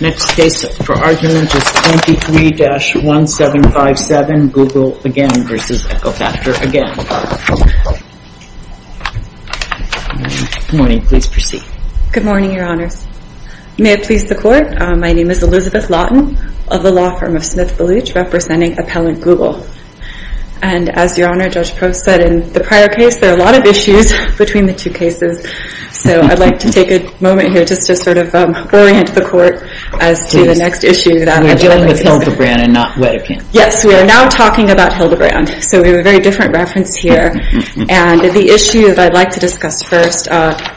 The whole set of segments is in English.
Next case for argument is 23-1757, Google again v. EcoFactor, again. Good morning. Please proceed. Good morning, Your Honors. May it please the Court, my name is Elizabeth Lawton of the law firm of Smith & Baluch, representing appellant Google. And as Your Honor, Judge Post said in the prior case, there are a lot of issues between the two cases. So I'd like to take a moment here just to sort of orient the Court as to the next issue that I'm dealing with. We're dealing with Hildebrand and not Wedekind. Yes, we are now talking about Hildebrand. So we have a very different reference here. And the issue that I'd like to discuss first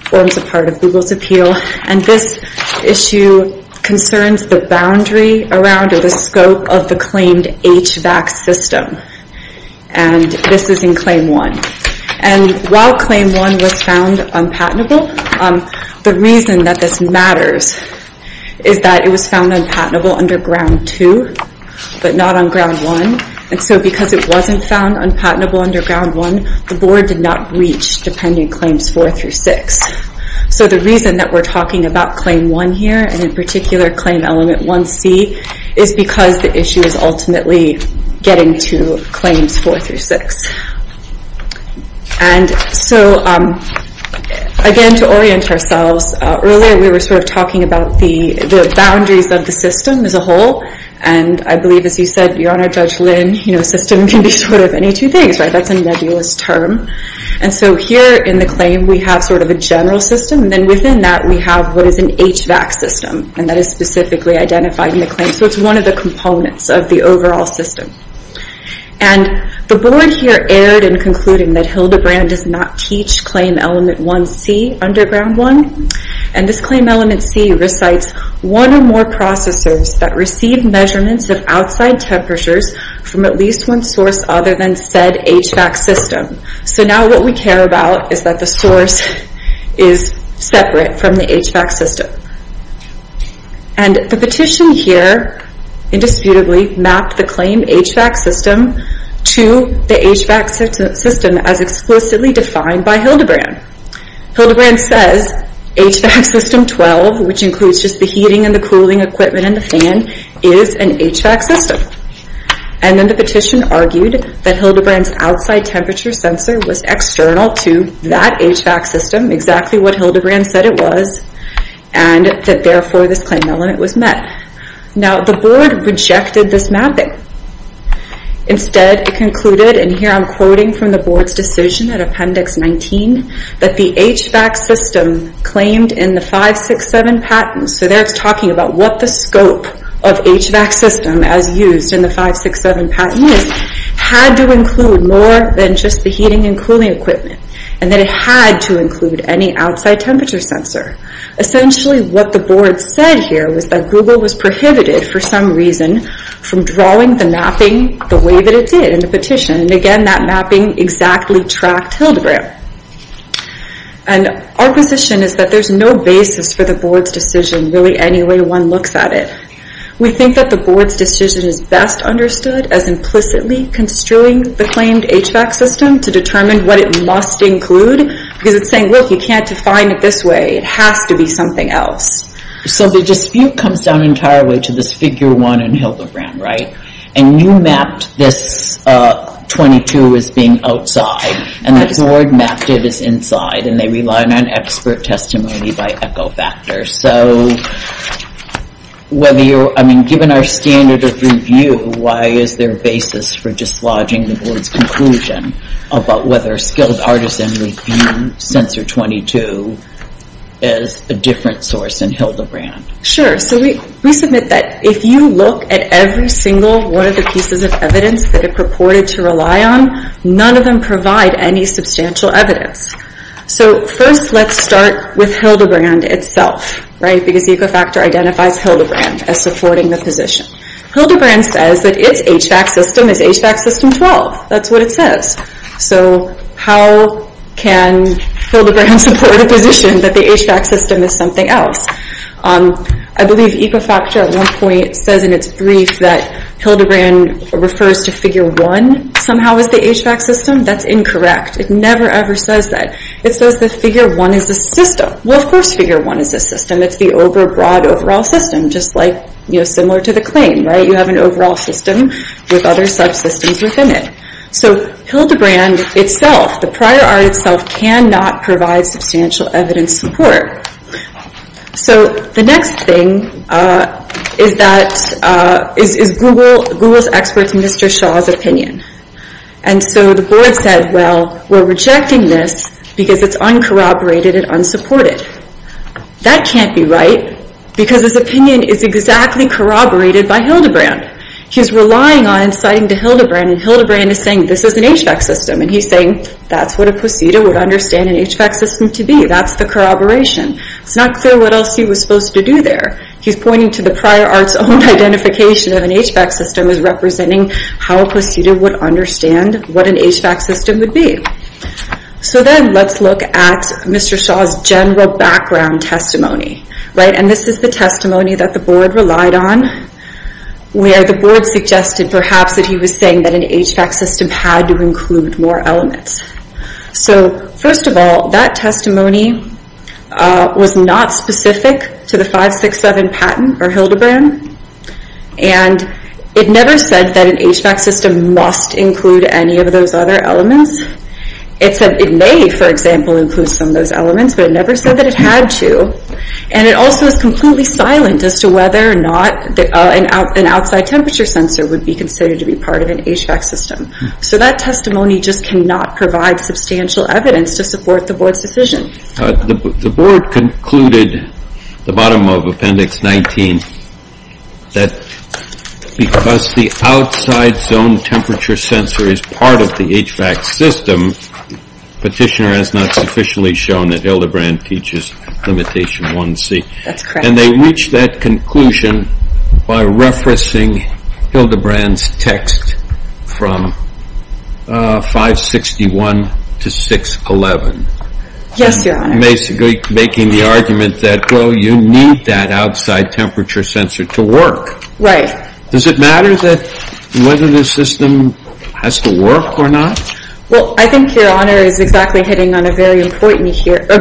forms a part of Google's appeal. And this issue concerns the boundary around or the scope of the claimed HVAC system. And this is in Claim 1. And while Claim 1 was found unpatentable, the reason that this matters is that it was found unpatentable under Ground 2, but not on Ground 1. And so because it wasn't found unpatentable under Ground 1, the Board did not reach Dependent Claims 4 through 6. So the reason that we're talking about Claim 1 here, and in particular Claim Element 1C, is because the issue is ultimately getting to Claims 4 through 6. And so, again, to orient ourselves, earlier we were sort of talking about the boundaries of the system as a whole. And I believe, as you said, Your Honor, Judge Lynn, a system can be sort of any two things, right? That's a nebulous term. And so here in the claim we have sort of a general system. And then within that we have what is an HVAC system. And that is specifically identified in the claim. So it's one of the components of the overall system. And the Board here erred in concluding that Hildebrand does not teach Claim Element 1C under Ground 1. And this Claim Element C recites one or more processors that receive measurements of outside temperatures from at least one source other than said HVAC system. So now what we care about is that the source is separate from the HVAC system. And the petition here, indisputably, mapped the claim HVAC system to the HVAC system as explicitly defined by Hildebrand. Hildebrand says HVAC system 12, which includes just the heating and the cooling equipment and the fan, is an HVAC system. And then the petition argued that Hildebrand's outside temperature sensor was external to that HVAC system, exactly what Hildebrand said it was, and that therefore this Claim Element was met. Now the Board rejected this mapping. Instead it concluded, and here I'm quoting from the Board's decision in Appendix 19, that the HVAC system claimed in the 5-6-7 patent, so there it's talking about what the scope of HVAC system as used in the 5-6-7 patent is, had to include more than just the heating and cooling equipment, and that it had to include any outside temperature sensor. Essentially what the Board said here was that Google was prohibited, for some reason, from drawing the mapping the way that it did in the petition, and again that mapping exactly tracked Hildebrand. And our position is that there's no basis for the Board's decision, really, any way one looks at it. We think that the Board's decision is best understood as implicitly construing the claimed HVAC system to determine what it must include, because it's saying, look, you can't define it this way. It has to be something else. So the dispute comes down entirely to this Figure 1 and Hildebrand, right? And you mapped this 22 as being outside, and the Board mapped it as inside, and they rely on expert testimony by echo factor. So given our standard of review, why is there a basis for dislodging the Board's conclusion about whether a skilled artisan would view sensor 22 as a different source than Hildebrand? Sure, so we submit that if you look at every single one of the pieces of evidence that it purported to rely on, none of them provide any substantial evidence. So first let's start with Hildebrand itself, right? Because echo factor identifies Hildebrand as supporting the position. Hildebrand says that its HVAC system is HVAC system 12. That's what it says. So how can Hildebrand support a position that the HVAC system is something else? I believe echo factor at one point says in its brief that Hildebrand refers to Figure 1 somehow as the HVAC system. That's incorrect. It never, ever says that. It says that Figure 1 is the system. Well, of course Figure 1 is the system. It's the OBRA broad overall system, just like, you know, similar to the claim, right? You have an overall system with other subsystems within it. So Hildebrand itself, the prior art itself, cannot provide substantial evidence support. So the next thing is that, is Google's experts Mr. Shaw's opinion. And so the board said, well, we're rejecting this because it's uncorroborated and unsupported. That can't be right because his opinion is exactly corroborated by Hildebrand. He's relying on and citing to Hildebrand. And Hildebrand is saying this is an HVAC system. And he's saying that's what a procedure would understand an HVAC system to be. That's the corroboration. It's not clear what else he was supposed to do there. He's pointing to the prior art's own identification of an HVAC system as representing how a procedure would understand what an HVAC system would be. So then let's look at Mr. Shaw's general background testimony, right? And this is the testimony that the board relied on, where the board suggested perhaps that he was saying that an HVAC system had to include more elements. So first of all, that testimony was not specific to the 567 patent or Hildebrand. And it never said that an HVAC system must include any of those other elements. It said it may, for example, include some of those elements, but it never said that it had to. And it also is completely silent as to whether or not an outside temperature sensor would be considered to be part of an HVAC system. So that testimony just cannot provide substantial evidence to support the board's decision. The board concluded at the bottom of Appendix 19 that because the outside zone temperature sensor is part of the HVAC system, Petitioner has not sufficiently shown that Hildebrand teaches Limitation 1C. And they reached that conclusion by referencing Hildebrand's text from 561 to 611. Yes, Your Honor. Basically making the argument that, well, you need that outside temperature sensor to work. Right. Does it matter whether the system has to work or not? Well, I think Your Honor is exactly hitting on a very important point here. The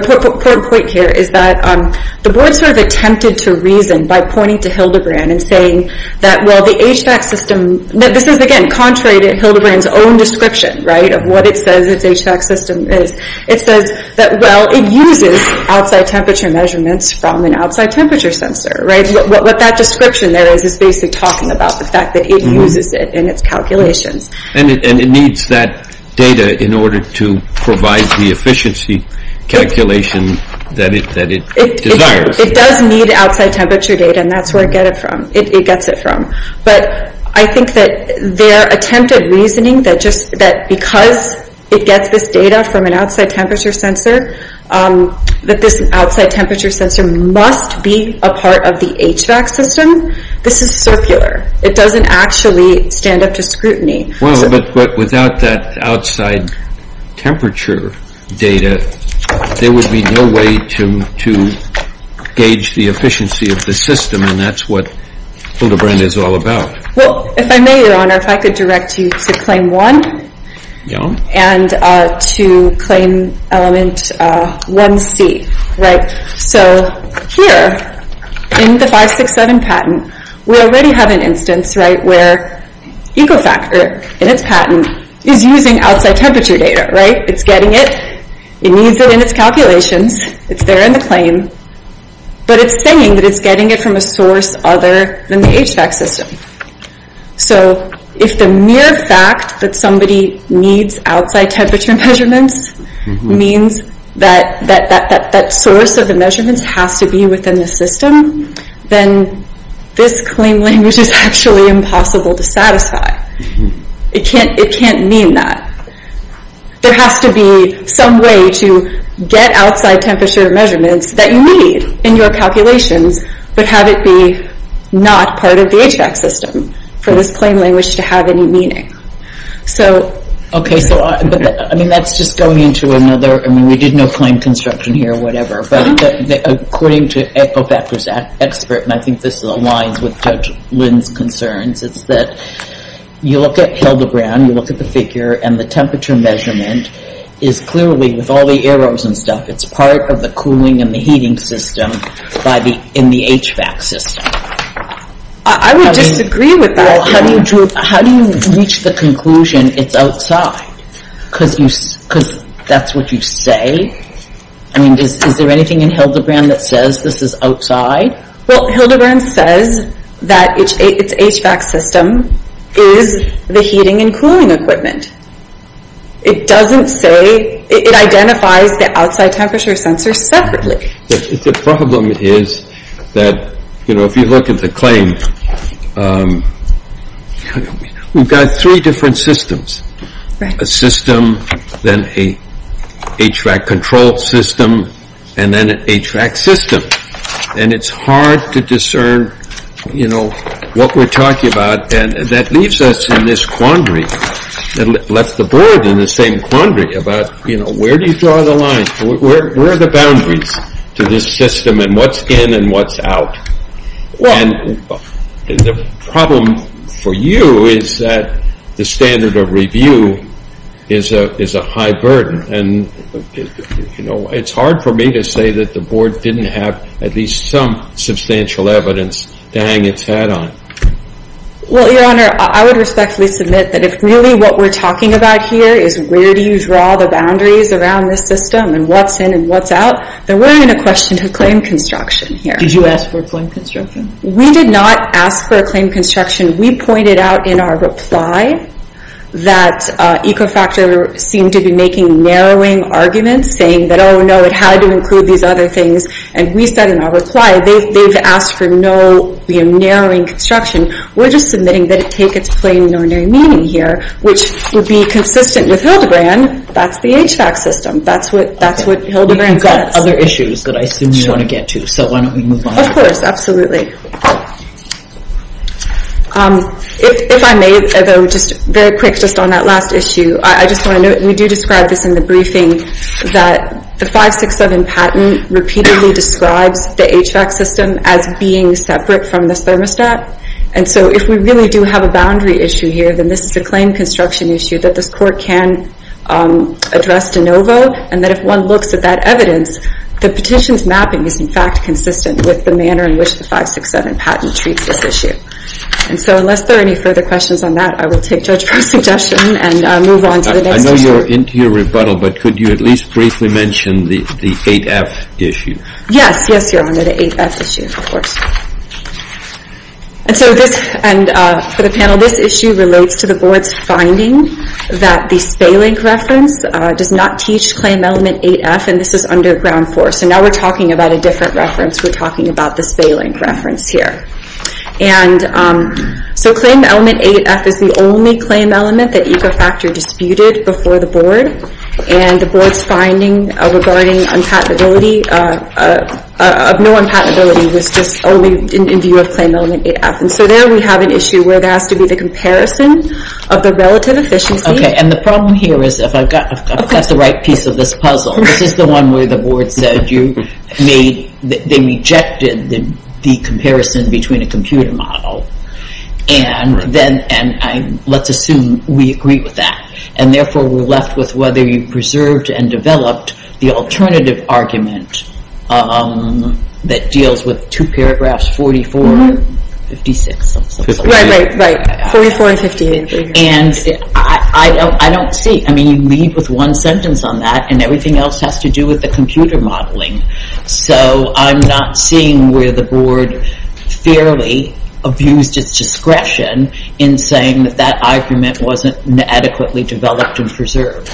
board sort of attempted to reason by pointing to Hildebrand and saying that, well, the HVAC system This is, again, contrary to Hildebrand's own description, right, of what it says its HVAC system is. It says that, well, it uses outside temperature measurements from an outside temperature sensor, right? What that description there is, is basically talking about the fact that it uses it in its calculations. And it needs that data in order to provide the efficiency calculation that it desires. It does need outside temperature data, and that's where it gets it from. But I think that their attempted reasoning that because it gets this data from an outside temperature sensor, that this outside temperature sensor must be a part of the HVAC system, this is circular. It doesn't actually stand up to scrutiny. Well, but without that outside temperature data, there would be no way to gauge the efficiency of the system. And that's what Hildebrand is all about. Well, if I may, Your Honor, if I could direct you to Claim 1 and to Claim Element 1C, right? So here, in the 567 patent, we already have an instance, right, where Ecofactor, in its patent, is using outside temperature data, right? It's getting it. It needs it in its calculations. It's there in the claim. But it's saying that it's getting it from a source other than the HVAC system. So if the mere fact that somebody needs outside temperature measurements means that that source of the measurements has to be within the system, then this claim language is actually impossible to satisfy. It can't mean that. There has to be some way to get outside temperature measurements that you need in your calculations, but have it be not part of the HVAC system for this claim language to have any meaning. So... Okay, so I mean, that's just going into another, I mean, we did no claim construction here, whatever. But according to Ecofactor's expert, and I think this aligns with Judge Lynn's concerns, it's that you look at Hildebrand, you look at the figure, and the temperature measurement is clearly, with all the arrows and stuff, it's part of the cooling and the heating system in the HVAC system. I would disagree with that. Well, how do you reach the conclusion it's outside? Because that's what you say? I mean, is there anything in Hildebrand that says this is outside? Well, Hildebrand says that its HVAC system is the heating and cooling equipment. It doesn't say, it identifies the outside temperature sensors separately. The problem is that, you know, if you look at the claim, we've got three different systems. A system, then a HVAC control system, and then a HVAC system. And it's hard to discern, you know, what we're talking about. And that leaves us in this quandary. It left the board in the same quandary about, you know, where do you draw the line? Where are the boundaries to this system, and what's in and what's out? And the problem for you is that the standard of review is a high burden. And, you know, it's hard for me to say that the board didn't have at least some substantial evidence to hang its head on. Well, Your Honor, I would respectfully submit that if really what we're talking about here is where do you draw the boundaries around this system, and what's in and what's out, then we're going to question the claim construction here. Did you ask for a claim construction? We did not ask for a claim construction. We pointed out in our reply that Ecofactor seemed to be making narrowing arguments, saying that, oh, no, it had to include these other things. And we said in our reply, they've asked for no, you know, narrowing construction. We're just submitting that it take its plain and ordinary meaning here, which would be consistent with Hildegrand. That's the HVAC system. That's what Hildegrand says. But you've got other issues that I assume you want to get to, so why don't we move on? Of course, absolutely. If I may, though, just very quick, just on that last issue, I just want to note, and we do describe this in the briefing, that the 567 patent repeatedly describes the HVAC system as being separate from the thermostat. And so if we really do have a boundary issue here, then this is a claim construction issue that this Court can address de novo, and that if one looks at that evidence, the petition's mapping is, in fact, consistent with the manner in which the 567 patent treats this issue. And so unless there are any further questions on that, I will take Judge Brewer's suggestion and move on to the next issue. I know you're into your rebuttal, but could you at least briefly mention the 8F issue? Yes, yes, Your Honor, the 8F issue, of course. And so this, and for the panel, this issue relates to the Board's finding that the Spalink reference does not teach claim element 8F, and this is under Ground 4. So now we're talking about a different reference. We're talking about the Spalink reference here. And so claim element 8F is the only claim element that EcoFactor disputed before the Board, and the Board's finding regarding unpatentability, of no unpatentability, was just only in view of claim element 8F. And so there we have an issue where there has to be the comparison of the relative efficiency. Okay, and the problem here is, if I've got the right piece of this puzzle, this is the one where the Board said they rejected the comparison between a computer model, and let's assume we agree with that, and therefore we're left with whether you preserved and developed the alternative argument that deals with two paragraphs, 44 and 56. Right, right, right, 44 and 58. And I don't see, I mean, you leave with one sentence on that and everything else has to do with the computer modeling. So I'm not seeing where the Board fairly abused its discretion in saying that that argument wasn't adequately developed and preserved.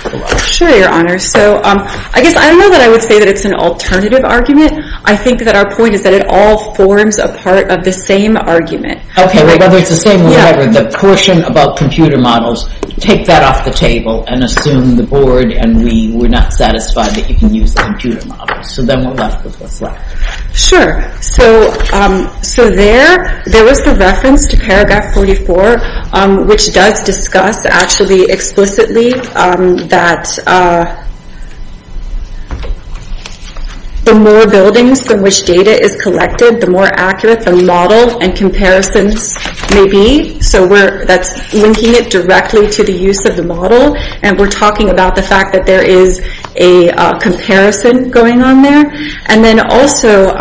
Sure, Your Honor. So I guess I know that I would say that it's an alternative argument. I think that our point is that it all forms a part of the same argument. Okay, whether it's the same or whatever, the portion about computer models, take that off the table and assume the Board and we were not satisfied that you can use a computer model. So then we're left with what's left. Sure, so there was the reference to paragraph 44, which does discuss actually explicitly that the more buildings from which data is collected, the more accurate the model and comparisons may be. So that's linking it directly to the use of the model and we're talking about the fact that there is a comparison going on there. And then also,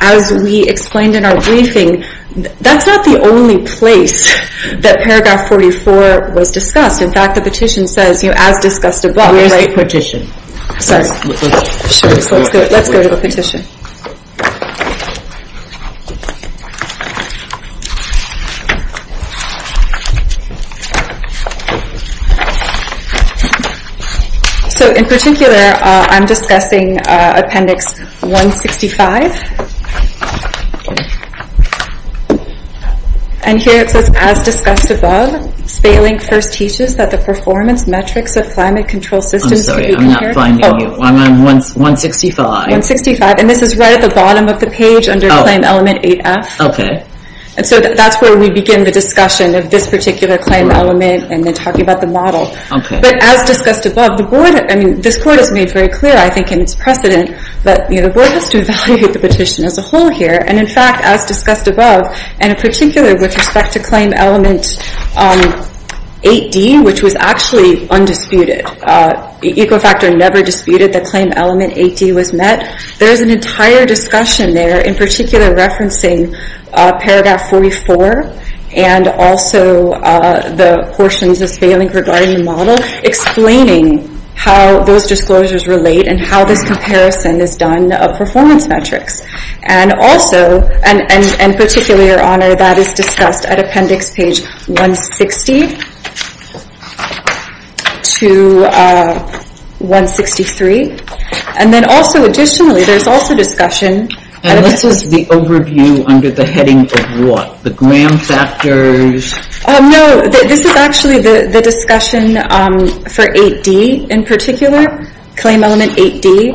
as we explained in our briefing, that's not the only place that paragraph 44 was discussed. In fact, the petition says, you know, as discussed above, right? Where's the petition? Sorry. Let's go to the petition. Okay. So in particular, I'm discussing appendix 165. And here it says, as discussed above, Spalink first teaches that the performance metrics of climate control systems... I'm sorry, I'm not finding you. Oh. I'm on 165. 165. And this is right at the bottom of the page under claim element 8F. And so that's where we begin the discussion of this particular claim element and then talking about the model. Okay. But as discussed above, the board... I mean, this court has made very clear, I think, in its precedent, that the board has to evaluate the petition as a whole here. And in fact, as discussed above, and in particular with respect to claim element 8D, which was actually undisputed. Ecofactor never disputed that claim element 8D was met. There's an entire discussion there, in particular referencing paragraph 44 and also the portions of Spalink regarding the model, explaining how those disclosures relate and how this comparison is done of performance metrics. And also, and particularly, Your Honor, that is discussed at appendix page 160 to 163. And then also, additionally, there's also discussion... And this is the overview under the heading of what? The gram factors? No. This is actually the discussion for 8D, in particular. Claim element 8D,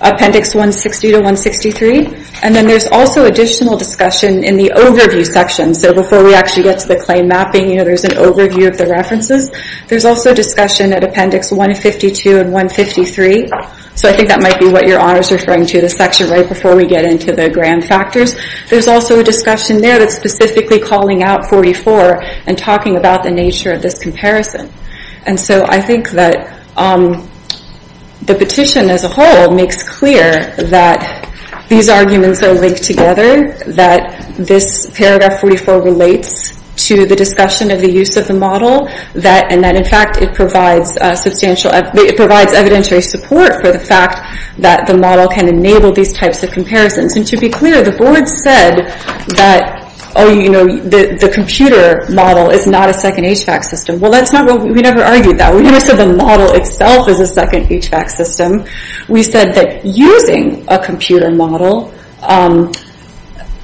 appendix 160 to 163. And then there's also additional discussion in the overview section. So before we actually get to the claim mapping, you know, there's an overview of the references. There's also discussion at appendix 152 and 153. So I think that might be what Your Honor is referring to, the section right before we get into the gram factors. There's also a discussion there that's specifically calling out 44 and talking about the nature of this comparison. And so I think that the petition as a whole makes clear that these arguments are linked together, that this paragraph 44 relates to the discussion of the use of the model, and that, in fact, it provides evidentiary support for the fact that the model can enable these types of comparisons. And to be clear, the board said that, oh, you know, the computer model is not a second HVAC system. Well, we never argued that. We never said the model itself is a second HVAC system. We said that using a computer model,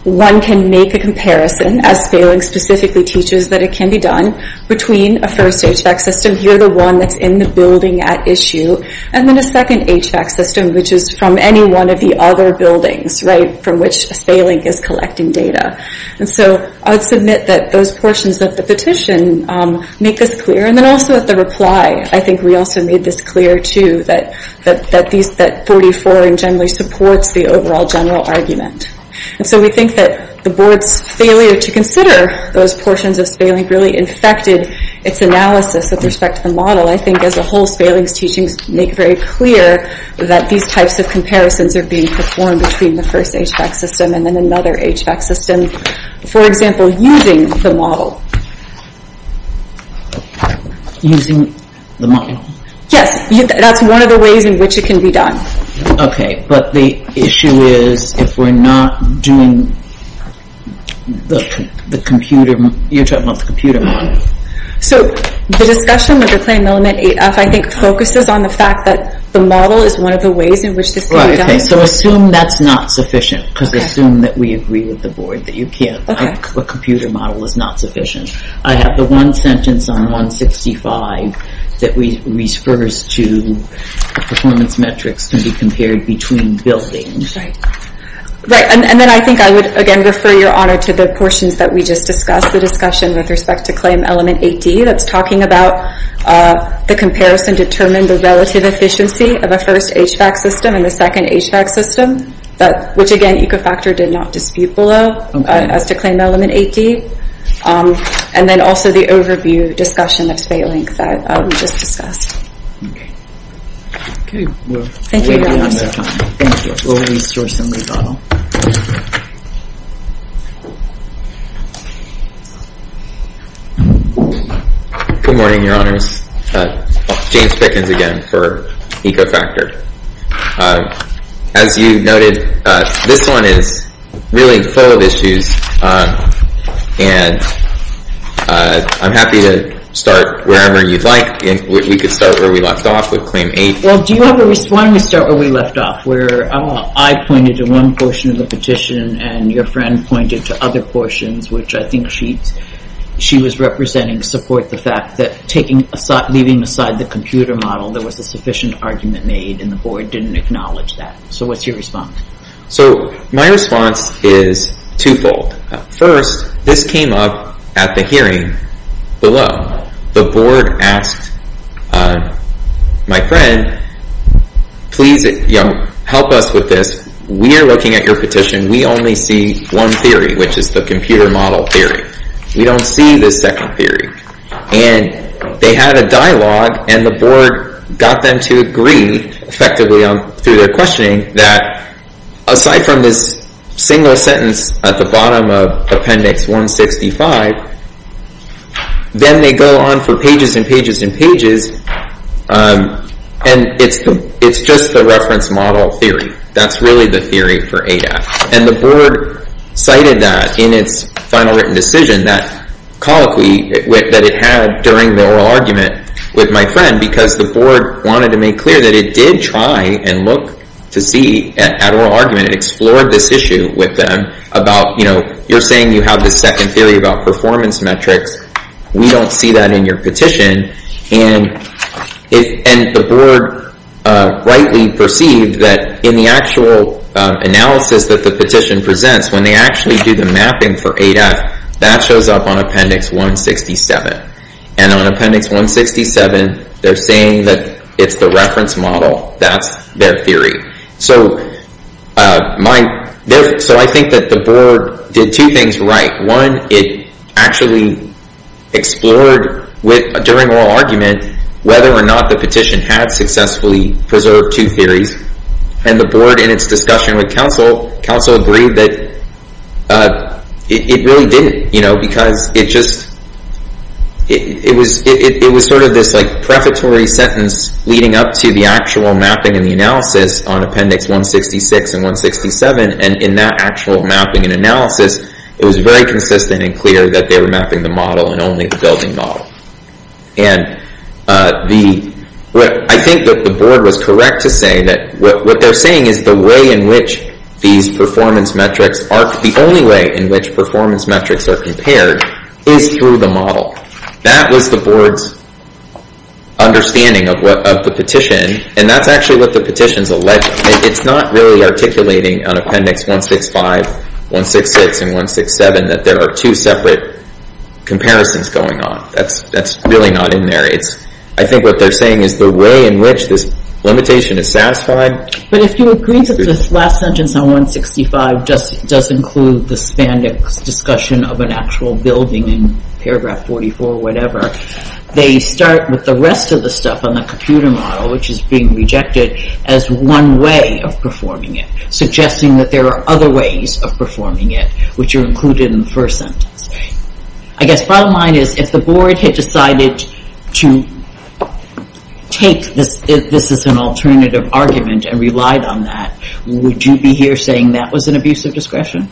one can make a comparison, as Spalink specifically teaches that it can be done, between a first HVAC system, here the one that's in the building at issue, and then a second HVAC system, which is from any one of the other buildings, right, from which Spalink is collecting data. And so I would submit that those portions of the petition make this clear. And then also at the reply, I think we also made this clear, too, that 44 generally supports the overall general argument. And so we think that the board's failure to consider those portions of Spalink really infected its analysis with respect to the model. I think as a whole, Spalink's teachings make very clear that these types of comparisons are being performed between the first HVAC system and then another HVAC system, for example, using the model. Using the model. Yes, that's one of the ways in which it can be done. Okay, but the issue is if we're not doing the computer, you're talking about the computer model. So the discussion with the plan element 8F, I think, focuses on the fact that the model is one of the ways in which this can be done. Okay, so assume that's not sufficient, because assume that we agree with the board that you can't. A computer model is not sufficient. I have the one sentence on 165 that refers to performance metrics can be compared between buildings. Right, and then I think I would, again, refer your honor to the portions that we just discussed, the discussion with respect to claim element 8D that's talking about the comparison determined the relative efficiency of a first HVAC system and a second HVAC system, which, again, Ecofactor did not dispute below as to claim element 8D. And then also the overview discussion of Spatelink that we just discussed. Okay. Thank you, your honor. Thank you. We'll resource somebody, Donald. Good morning, your honors. James Pickens again for Ecofactor. As you noted, this one is really full of issues. And I'm happy to start wherever you'd like. We could start where we left off with claim 8. Well, do you have a response? Why don't we start where we left off, where I pointed to one portion of the petition and your friend pointed to other portions, which I think she was representing to support the fact that leaving aside the computer model, there was a sufficient argument made, and the board didn't acknowledge that. So what's your response? So my response is twofold. First, this came up at the hearing below. The board asked my friend, please help us with this. We are looking at your petition. We only see one theory, which is the computer model theory. We don't see the second theory. And they had a dialogue, and the board got them to agree effectively through their questioning that aside from this single sentence at the bottom of appendix 165, then they go on for pages and pages and pages, and it's just the reference model theory. That's really the theory for ADAPT. And the board cited that in its final written decision, that colloquy that it had during the oral argument with my friend, because the board wanted to make clear that it did try and look to see at oral argument, and explored this issue with them about, you know, you're saying you have this second theory about performance metrics. We don't see that in your petition. And the board rightly perceived that in the actual analysis that the petition presents, when they actually do the mapping for ADAPT, that shows up on appendix 167. And on appendix 167, they're saying that it's the reference model. That's their theory. So I think that the board did two things right. One, it actually explored during oral argument whether or not the petition had successfully preserved two theories. And the board, in its discussion with counsel, counsel agreed that it really didn't, you know, because it was sort of this prefatory sentence leading up to the actual mapping and the analysis on appendix 166 and 167. And in that actual mapping and analysis, it was very consistent and clear that they were mapping the model and only the building model. And I think that the board was correct to say that what they're saying is the way in which these performance metrics are, the only way in which performance metrics are compared is through the model. That was the board's understanding of the petition. And that's actually what the petition's alleging. It's not really articulating on appendix 165, 166, and 167 that there are two separate comparisons going on. That's really not in there. I think what they're saying is the way in which this limitation is satisfied. But if you agree that this last sentence on 165 does include the spandex discussion of an actual building in paragraph 44, whatever, they start with the rest of the stuff on the computer model, which is being rejected, as one way of performing it, suggesting that there are other ways of performing it, which are included in the first sentence. I guess bottom line is if the board had decided to take this as an alternative argument and relied on that, would you be here saying that was an abuse of discretion?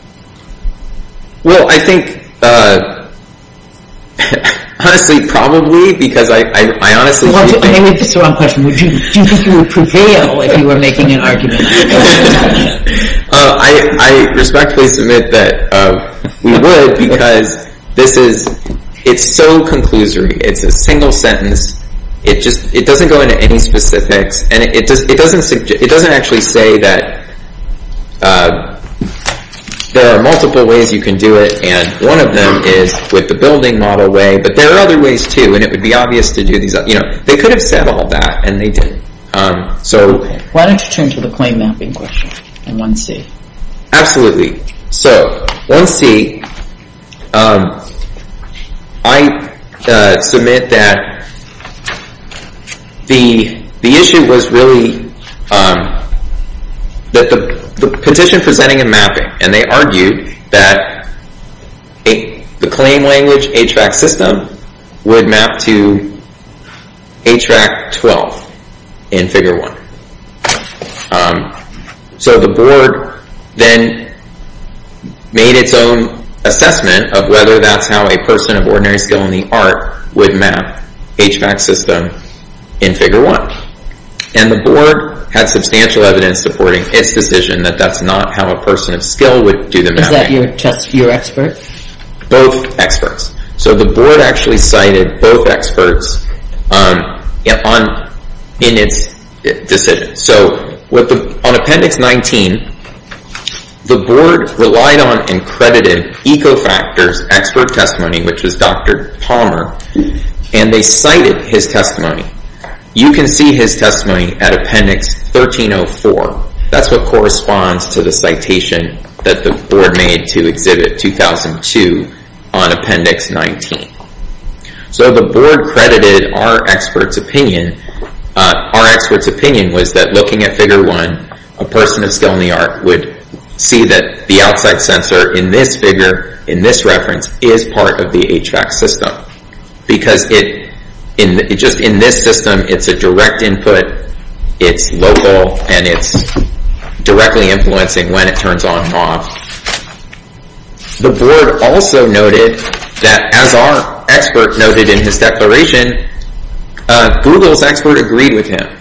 Well, I think, honestly, probably, because I honestly— I think that's the wrong question. Do you think you would prevail if you were making an argument? I respectfully submit that we would, because this is—it's so conclusory. It's a single sentence. It doesn't go into any specifics. And it doesn't actually say that there are multiple ways you can do it, and one of them is with the building model way. But there are other ways, too, and it would be obvious to do these— you know, they could have said all that, and they didn't. Why don't you turn to the plane mapping question in 1C? Absolutely. So, 1C, I submit that the issue was really the petition presenting a mapping, and they argued that the claim language HVAC system would map to HVAC 12 in Figure 1. So the board then made its own assessment of whether that's how a person of ordinary skill in the art would map HVAC system in Figure 1. And the board had substantial evidence supporting its decision that that's not how a person of skill would do the mapping. Is that just your expert? Both experts. So the board actually cited both experts in its decision. So on Appendix 19, the board relied on and credited EcoFactors expert testimony, which was Dr. Palmer, and they cited his testimony. You can see his testimony at Appendix 1304. That's what corresponds to the citation that the board made to Exhibit 2002 on Appendix 19. So the board credited our expert's opinion. Our expert's opinion was that looking at Figure 1, a person of skill in the art would see that the outside sensor in this figure, in this reference, is part of the HVAC system, because just in this system, it's a direct input, it's local, and it's directly influencing when it turns on and off. The board also noted that, as our expert noted in his declaration, Google's expert agreed with him.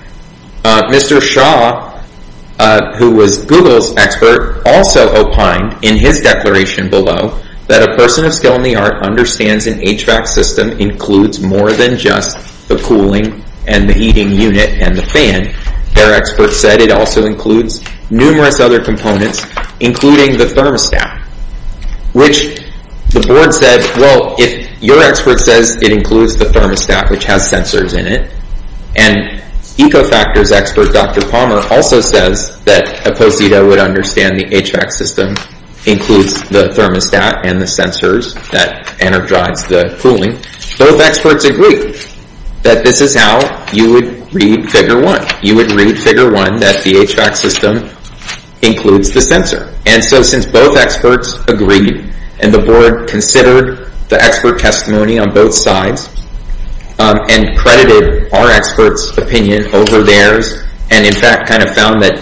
Mr. Shaw, who was Google's expert, also opined in his declaration below that a person of skill in the art understands an HVAC system includes more than just the cooling and the heating unit and the fan. Their expert said it also includes numerous other components, including the thermostat, which the board said, well, if your expert says it includes the thermostat, which has sensors in it, and EcoFactors expert Dr. Palmer also says that a posito would understand the HVAC system includes the thermostat and the sensors that energize the cooling. Both experts agreed that this is how you would read Figure 1. You would read Figure 1 that the HVAC system includes the sensor. And so since both experts agreed and the board considered the expert testimony on both sides and credited our expert's opinion over theirs and, in fact, kind of found that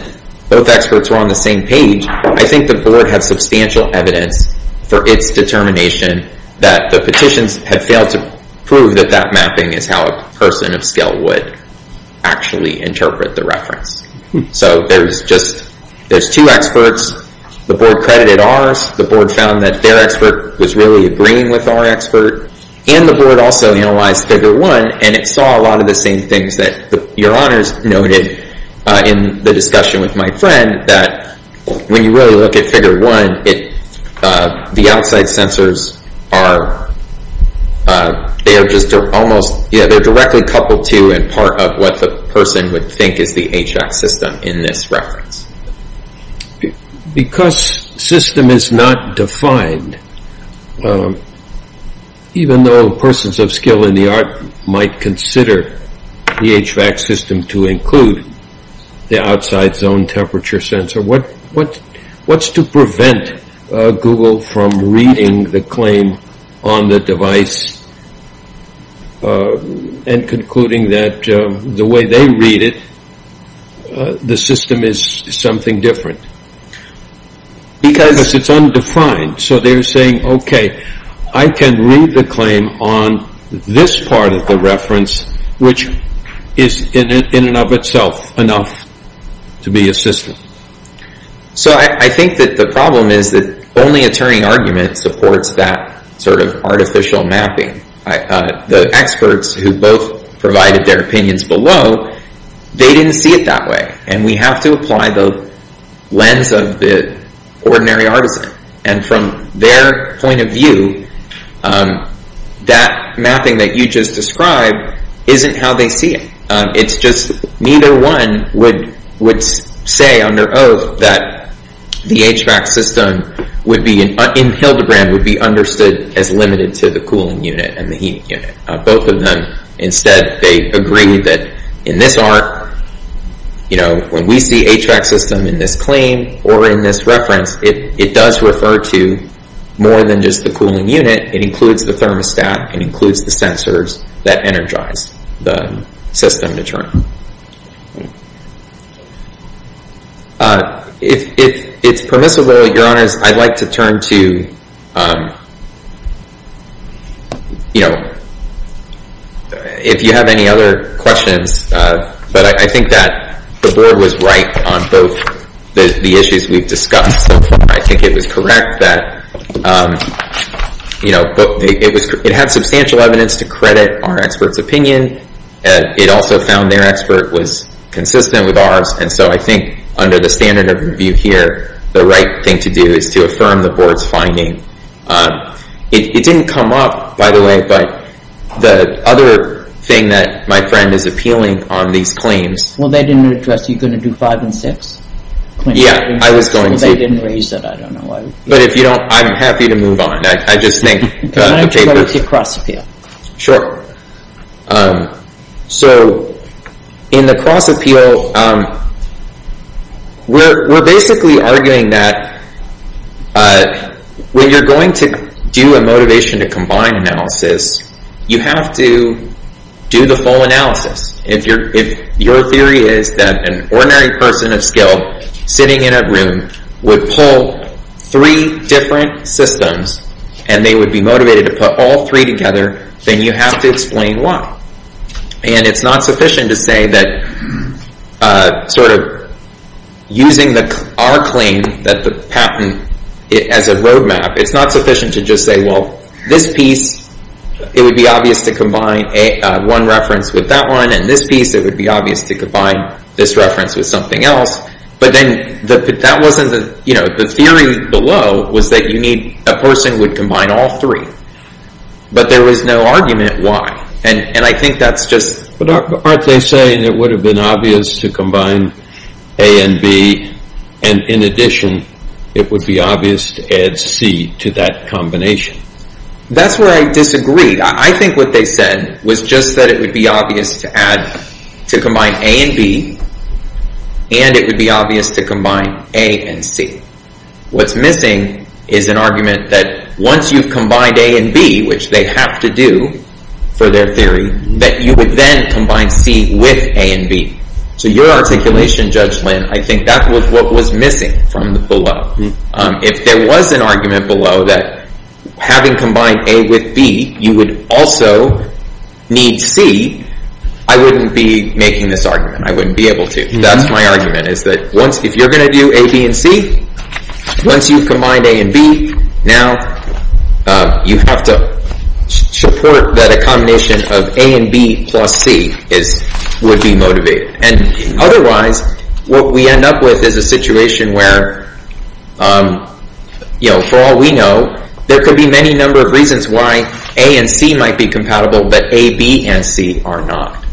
both experts were on the same page, I think the board had substantial evidence for its determination that the petitions had failed to prove that that mapping is how a person of skill would actually interpret the reference. So there's two experts. The board credited ours. The board found that their expert was really agreeing with our expert. And the board also analyzed Figure 1 and it saw a lot of the same things that your honors noted in the discussion with my friend that when you really look at Figure 1, the outside sensors are directly coupled to and part of what the person would think is the HVAC system in this reference. Because system is not defined, even though persons of skill in the art might consider the HVAC system to include the outside zone temperature sensor, what's to prevent Google from reading the claim on the device and concluding that the way they read it, the system is something different? Because it's undefined, so they're saying, okay, I can read the claim on this part of the reference which is in and of itself enough to be a system. So I think that the problem is that only a Turing argument supports that sort of artificial mapping. The experts who both provided their opinions below, they didn't see it that way. And we have to apply the lens of the ordinary artisan. And from their point of view, that mapping that you just described isn't how they see it. It's just neither one would say under oath that the HVAC system in Hildebrand would be understood as limited to the cooling unit and the heat unit. Both of them, instead, they agree that in this art, when we see HVAC system in this claim or in this reference, it does refer to more than just the cooling unit. It includes the thermostat. It includes the sensors that energize the system internally. If it's permissible, Your Honors, I'd like to turn to, you know, if you have any other questions, but I think that the board was right on both the issues we've discussed so far. I think it was correct that, you know, it had substantial evidence to credit our experts' opinion. It also found their expert was consistent with ours. And so I think under the standard of review here, the right thing to do is to affirm the board's finding. It didn't come up, by the way, but the other thing that my friend is appealing on these claims. Well, they didn't address. Are you going to do five and six? Yeah, I was going to. They didn't raise it. I don't know why. But if you don't, I'm happy to move on. I just think... Can I go to cross-appeal? Sure. So in the cross-appeal, we're basically arguing that when you're going to do a motivation to combine analysis, you have to do the full analysis. If your theory is that an ordinary person of skill sitting in a room would pull three different systems and they would be motivated to put all three together, then you have to explain why. And it's not sufficient to say that sort of using our claim that the patent as a roadmap, it's not sufficient to just say, well, this piece, it would be obvious to combine one reference with that one and this piece, it would be obvious to combine this reference with something else. But then that wasn't the... The theory below was that you need... A person would combine all three, but there was no argument why. And I think that's just... Aren't they saying it would have been obvious to combine A and B and in addition, it would be obvious to add C to that combination? That's where I disagreed. I think what they said was just that it would be obvious to combine A and B, and it would be obvious to combine A and C. What's missing is an argument that once you've combined A and B, which they have to do for their theory, that you would then combine C with A and B. So your articulation, Judge Lin, I think that was what was missing from the below. If there was an argument below that having combined A with B, you would also need C, I wouldn't be making this argument. I wouldn't be able to. That's my argument, is that if you're going to do A, B, and C, once you've combined A and B, now you have to support that a combination of A and B plus C would be motivated. Otherwise, what we end up with is a situation where, for all we know, there could be many number of reasons why A and C might be compatible, but A, B, and C are not.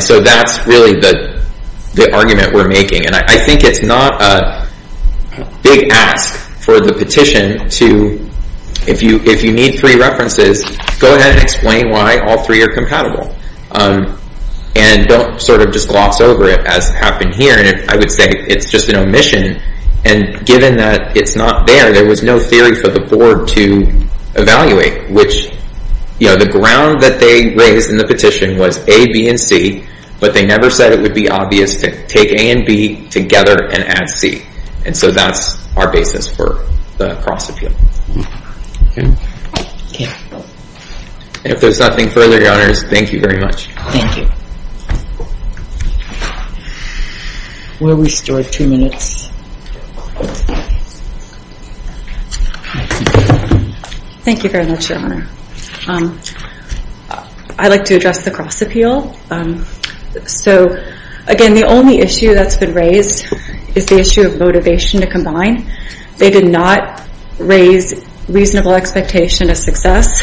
So that's really the argument we're making. I think it's not a big ask for the petition to, if you need three references, go ahead and explain why all three are compatible. And don't sort of just gloss over it, as happened here, and I would say it's just an omission. And given that it's not there, there was no theory for the board to evaluate, which the ground that they raised in the petition was A, B, and C, but they never said it would be obvious to take A and B together and add C. And so that's our basis for the cross-appeal. Okay? Okay. If there's nothing further, Your Honors, thank you very much. Thank you. We'll restore two minutes. Thank you very much, Your Honor. I'd like to address the cross-appeal. So, again, the only issue that's been raised is the issue of motivation to combine. They did not raise reasonable expectation of success.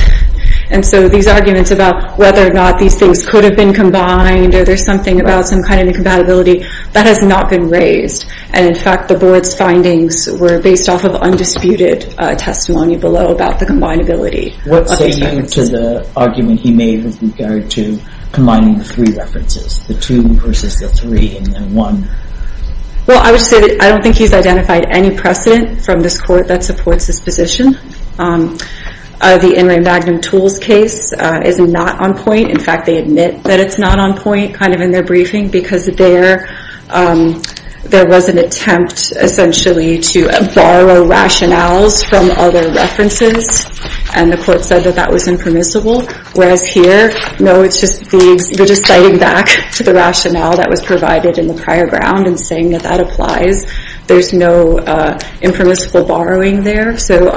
And so these arguments about whether or not these things could have been combined or there's something about some kind of incompatibility, that has not been raised. And, in fact, the board's findings were based off of undisputed testimony below about the combinability. What say you to the argument he made with regard to combining the three references, the two versus the three and then one? Well, I would say that I don't think he's identified any precedent from this court that supports this position. The In re Magnum Tools case is not on point. In fact, they admit that it's not on point kind of in their briefing, because there was an attempt, essentially, to borrow rationales from other references, and the court said that that was impermissible. Whereas here, no, we're just citing back to the rationale that was provided in the prior ground and saying that that applies. There's no impermissible borrowing there, so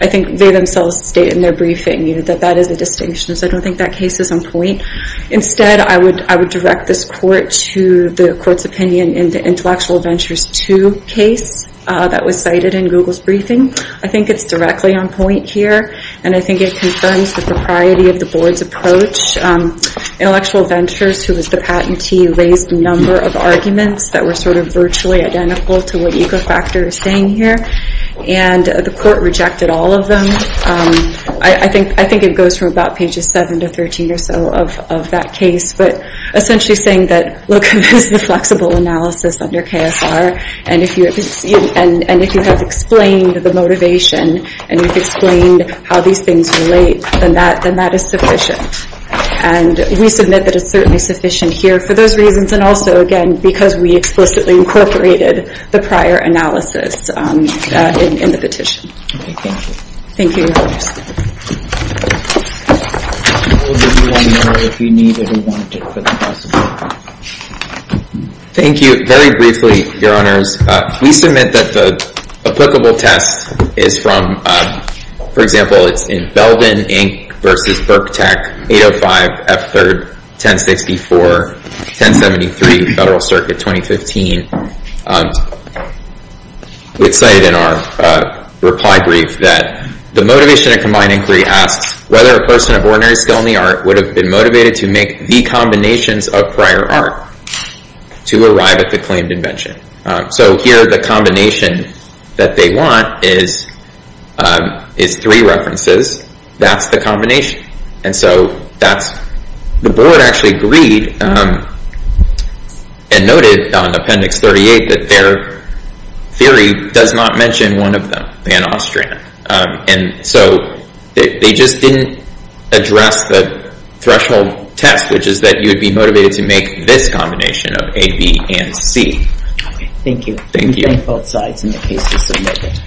I think they themselves state in their briefing that that is a distinction, so I don't think that case is on point. Instead, I would direct this court to the court's opinion in the Intellectual Ventures II case that was cited in Google's briefing. I think it's directly on point here, and I think it confirms the propriety of the board's approach. Intellectual Ventures, who was the patentee, raised a number of arguments that were sort of virtually identical to what Ecofactor is saying here, and the court rejected all of them. I think it goes from about pages 7 to 13 or so of that case, but essentially saying that, look, this is a flexible analysis under KSR, and if you have explained the motivation and you've explained how these things relate, then that is sufficient. And we submit that it's certainly sufficient here for those reasons, and also, again, because we explicitly incorporated the prior analysis in the petition. Okay, thank you. Thank you, Your Honors. We'll give you one more if you need it or want it for the process. Thank you. Very briefly, Your Honors, we submit that the applicable test is from, for example, it's in Belvin, Inc. versus BurkTech 805 F3rd 1064-1073 Federal Circuit 2015. We cited in our reply brief that the motivation of combined inquiry asks whether a person of ordinary skill in the art would have been motivated to make the combinations of prior art to arrive at the claimed invention. So here, the combination that they want is three references. That's the combination. And so that's... The board actually agreed and noted on Appendix 38 that their theory does not mention one of them, Pan-Austrian. And so they just didn't address the threshold test, which is that you would be motivated to make this combination of A, B, and C. Okay, thank you. Thank you. We have both sides in the case to submit it.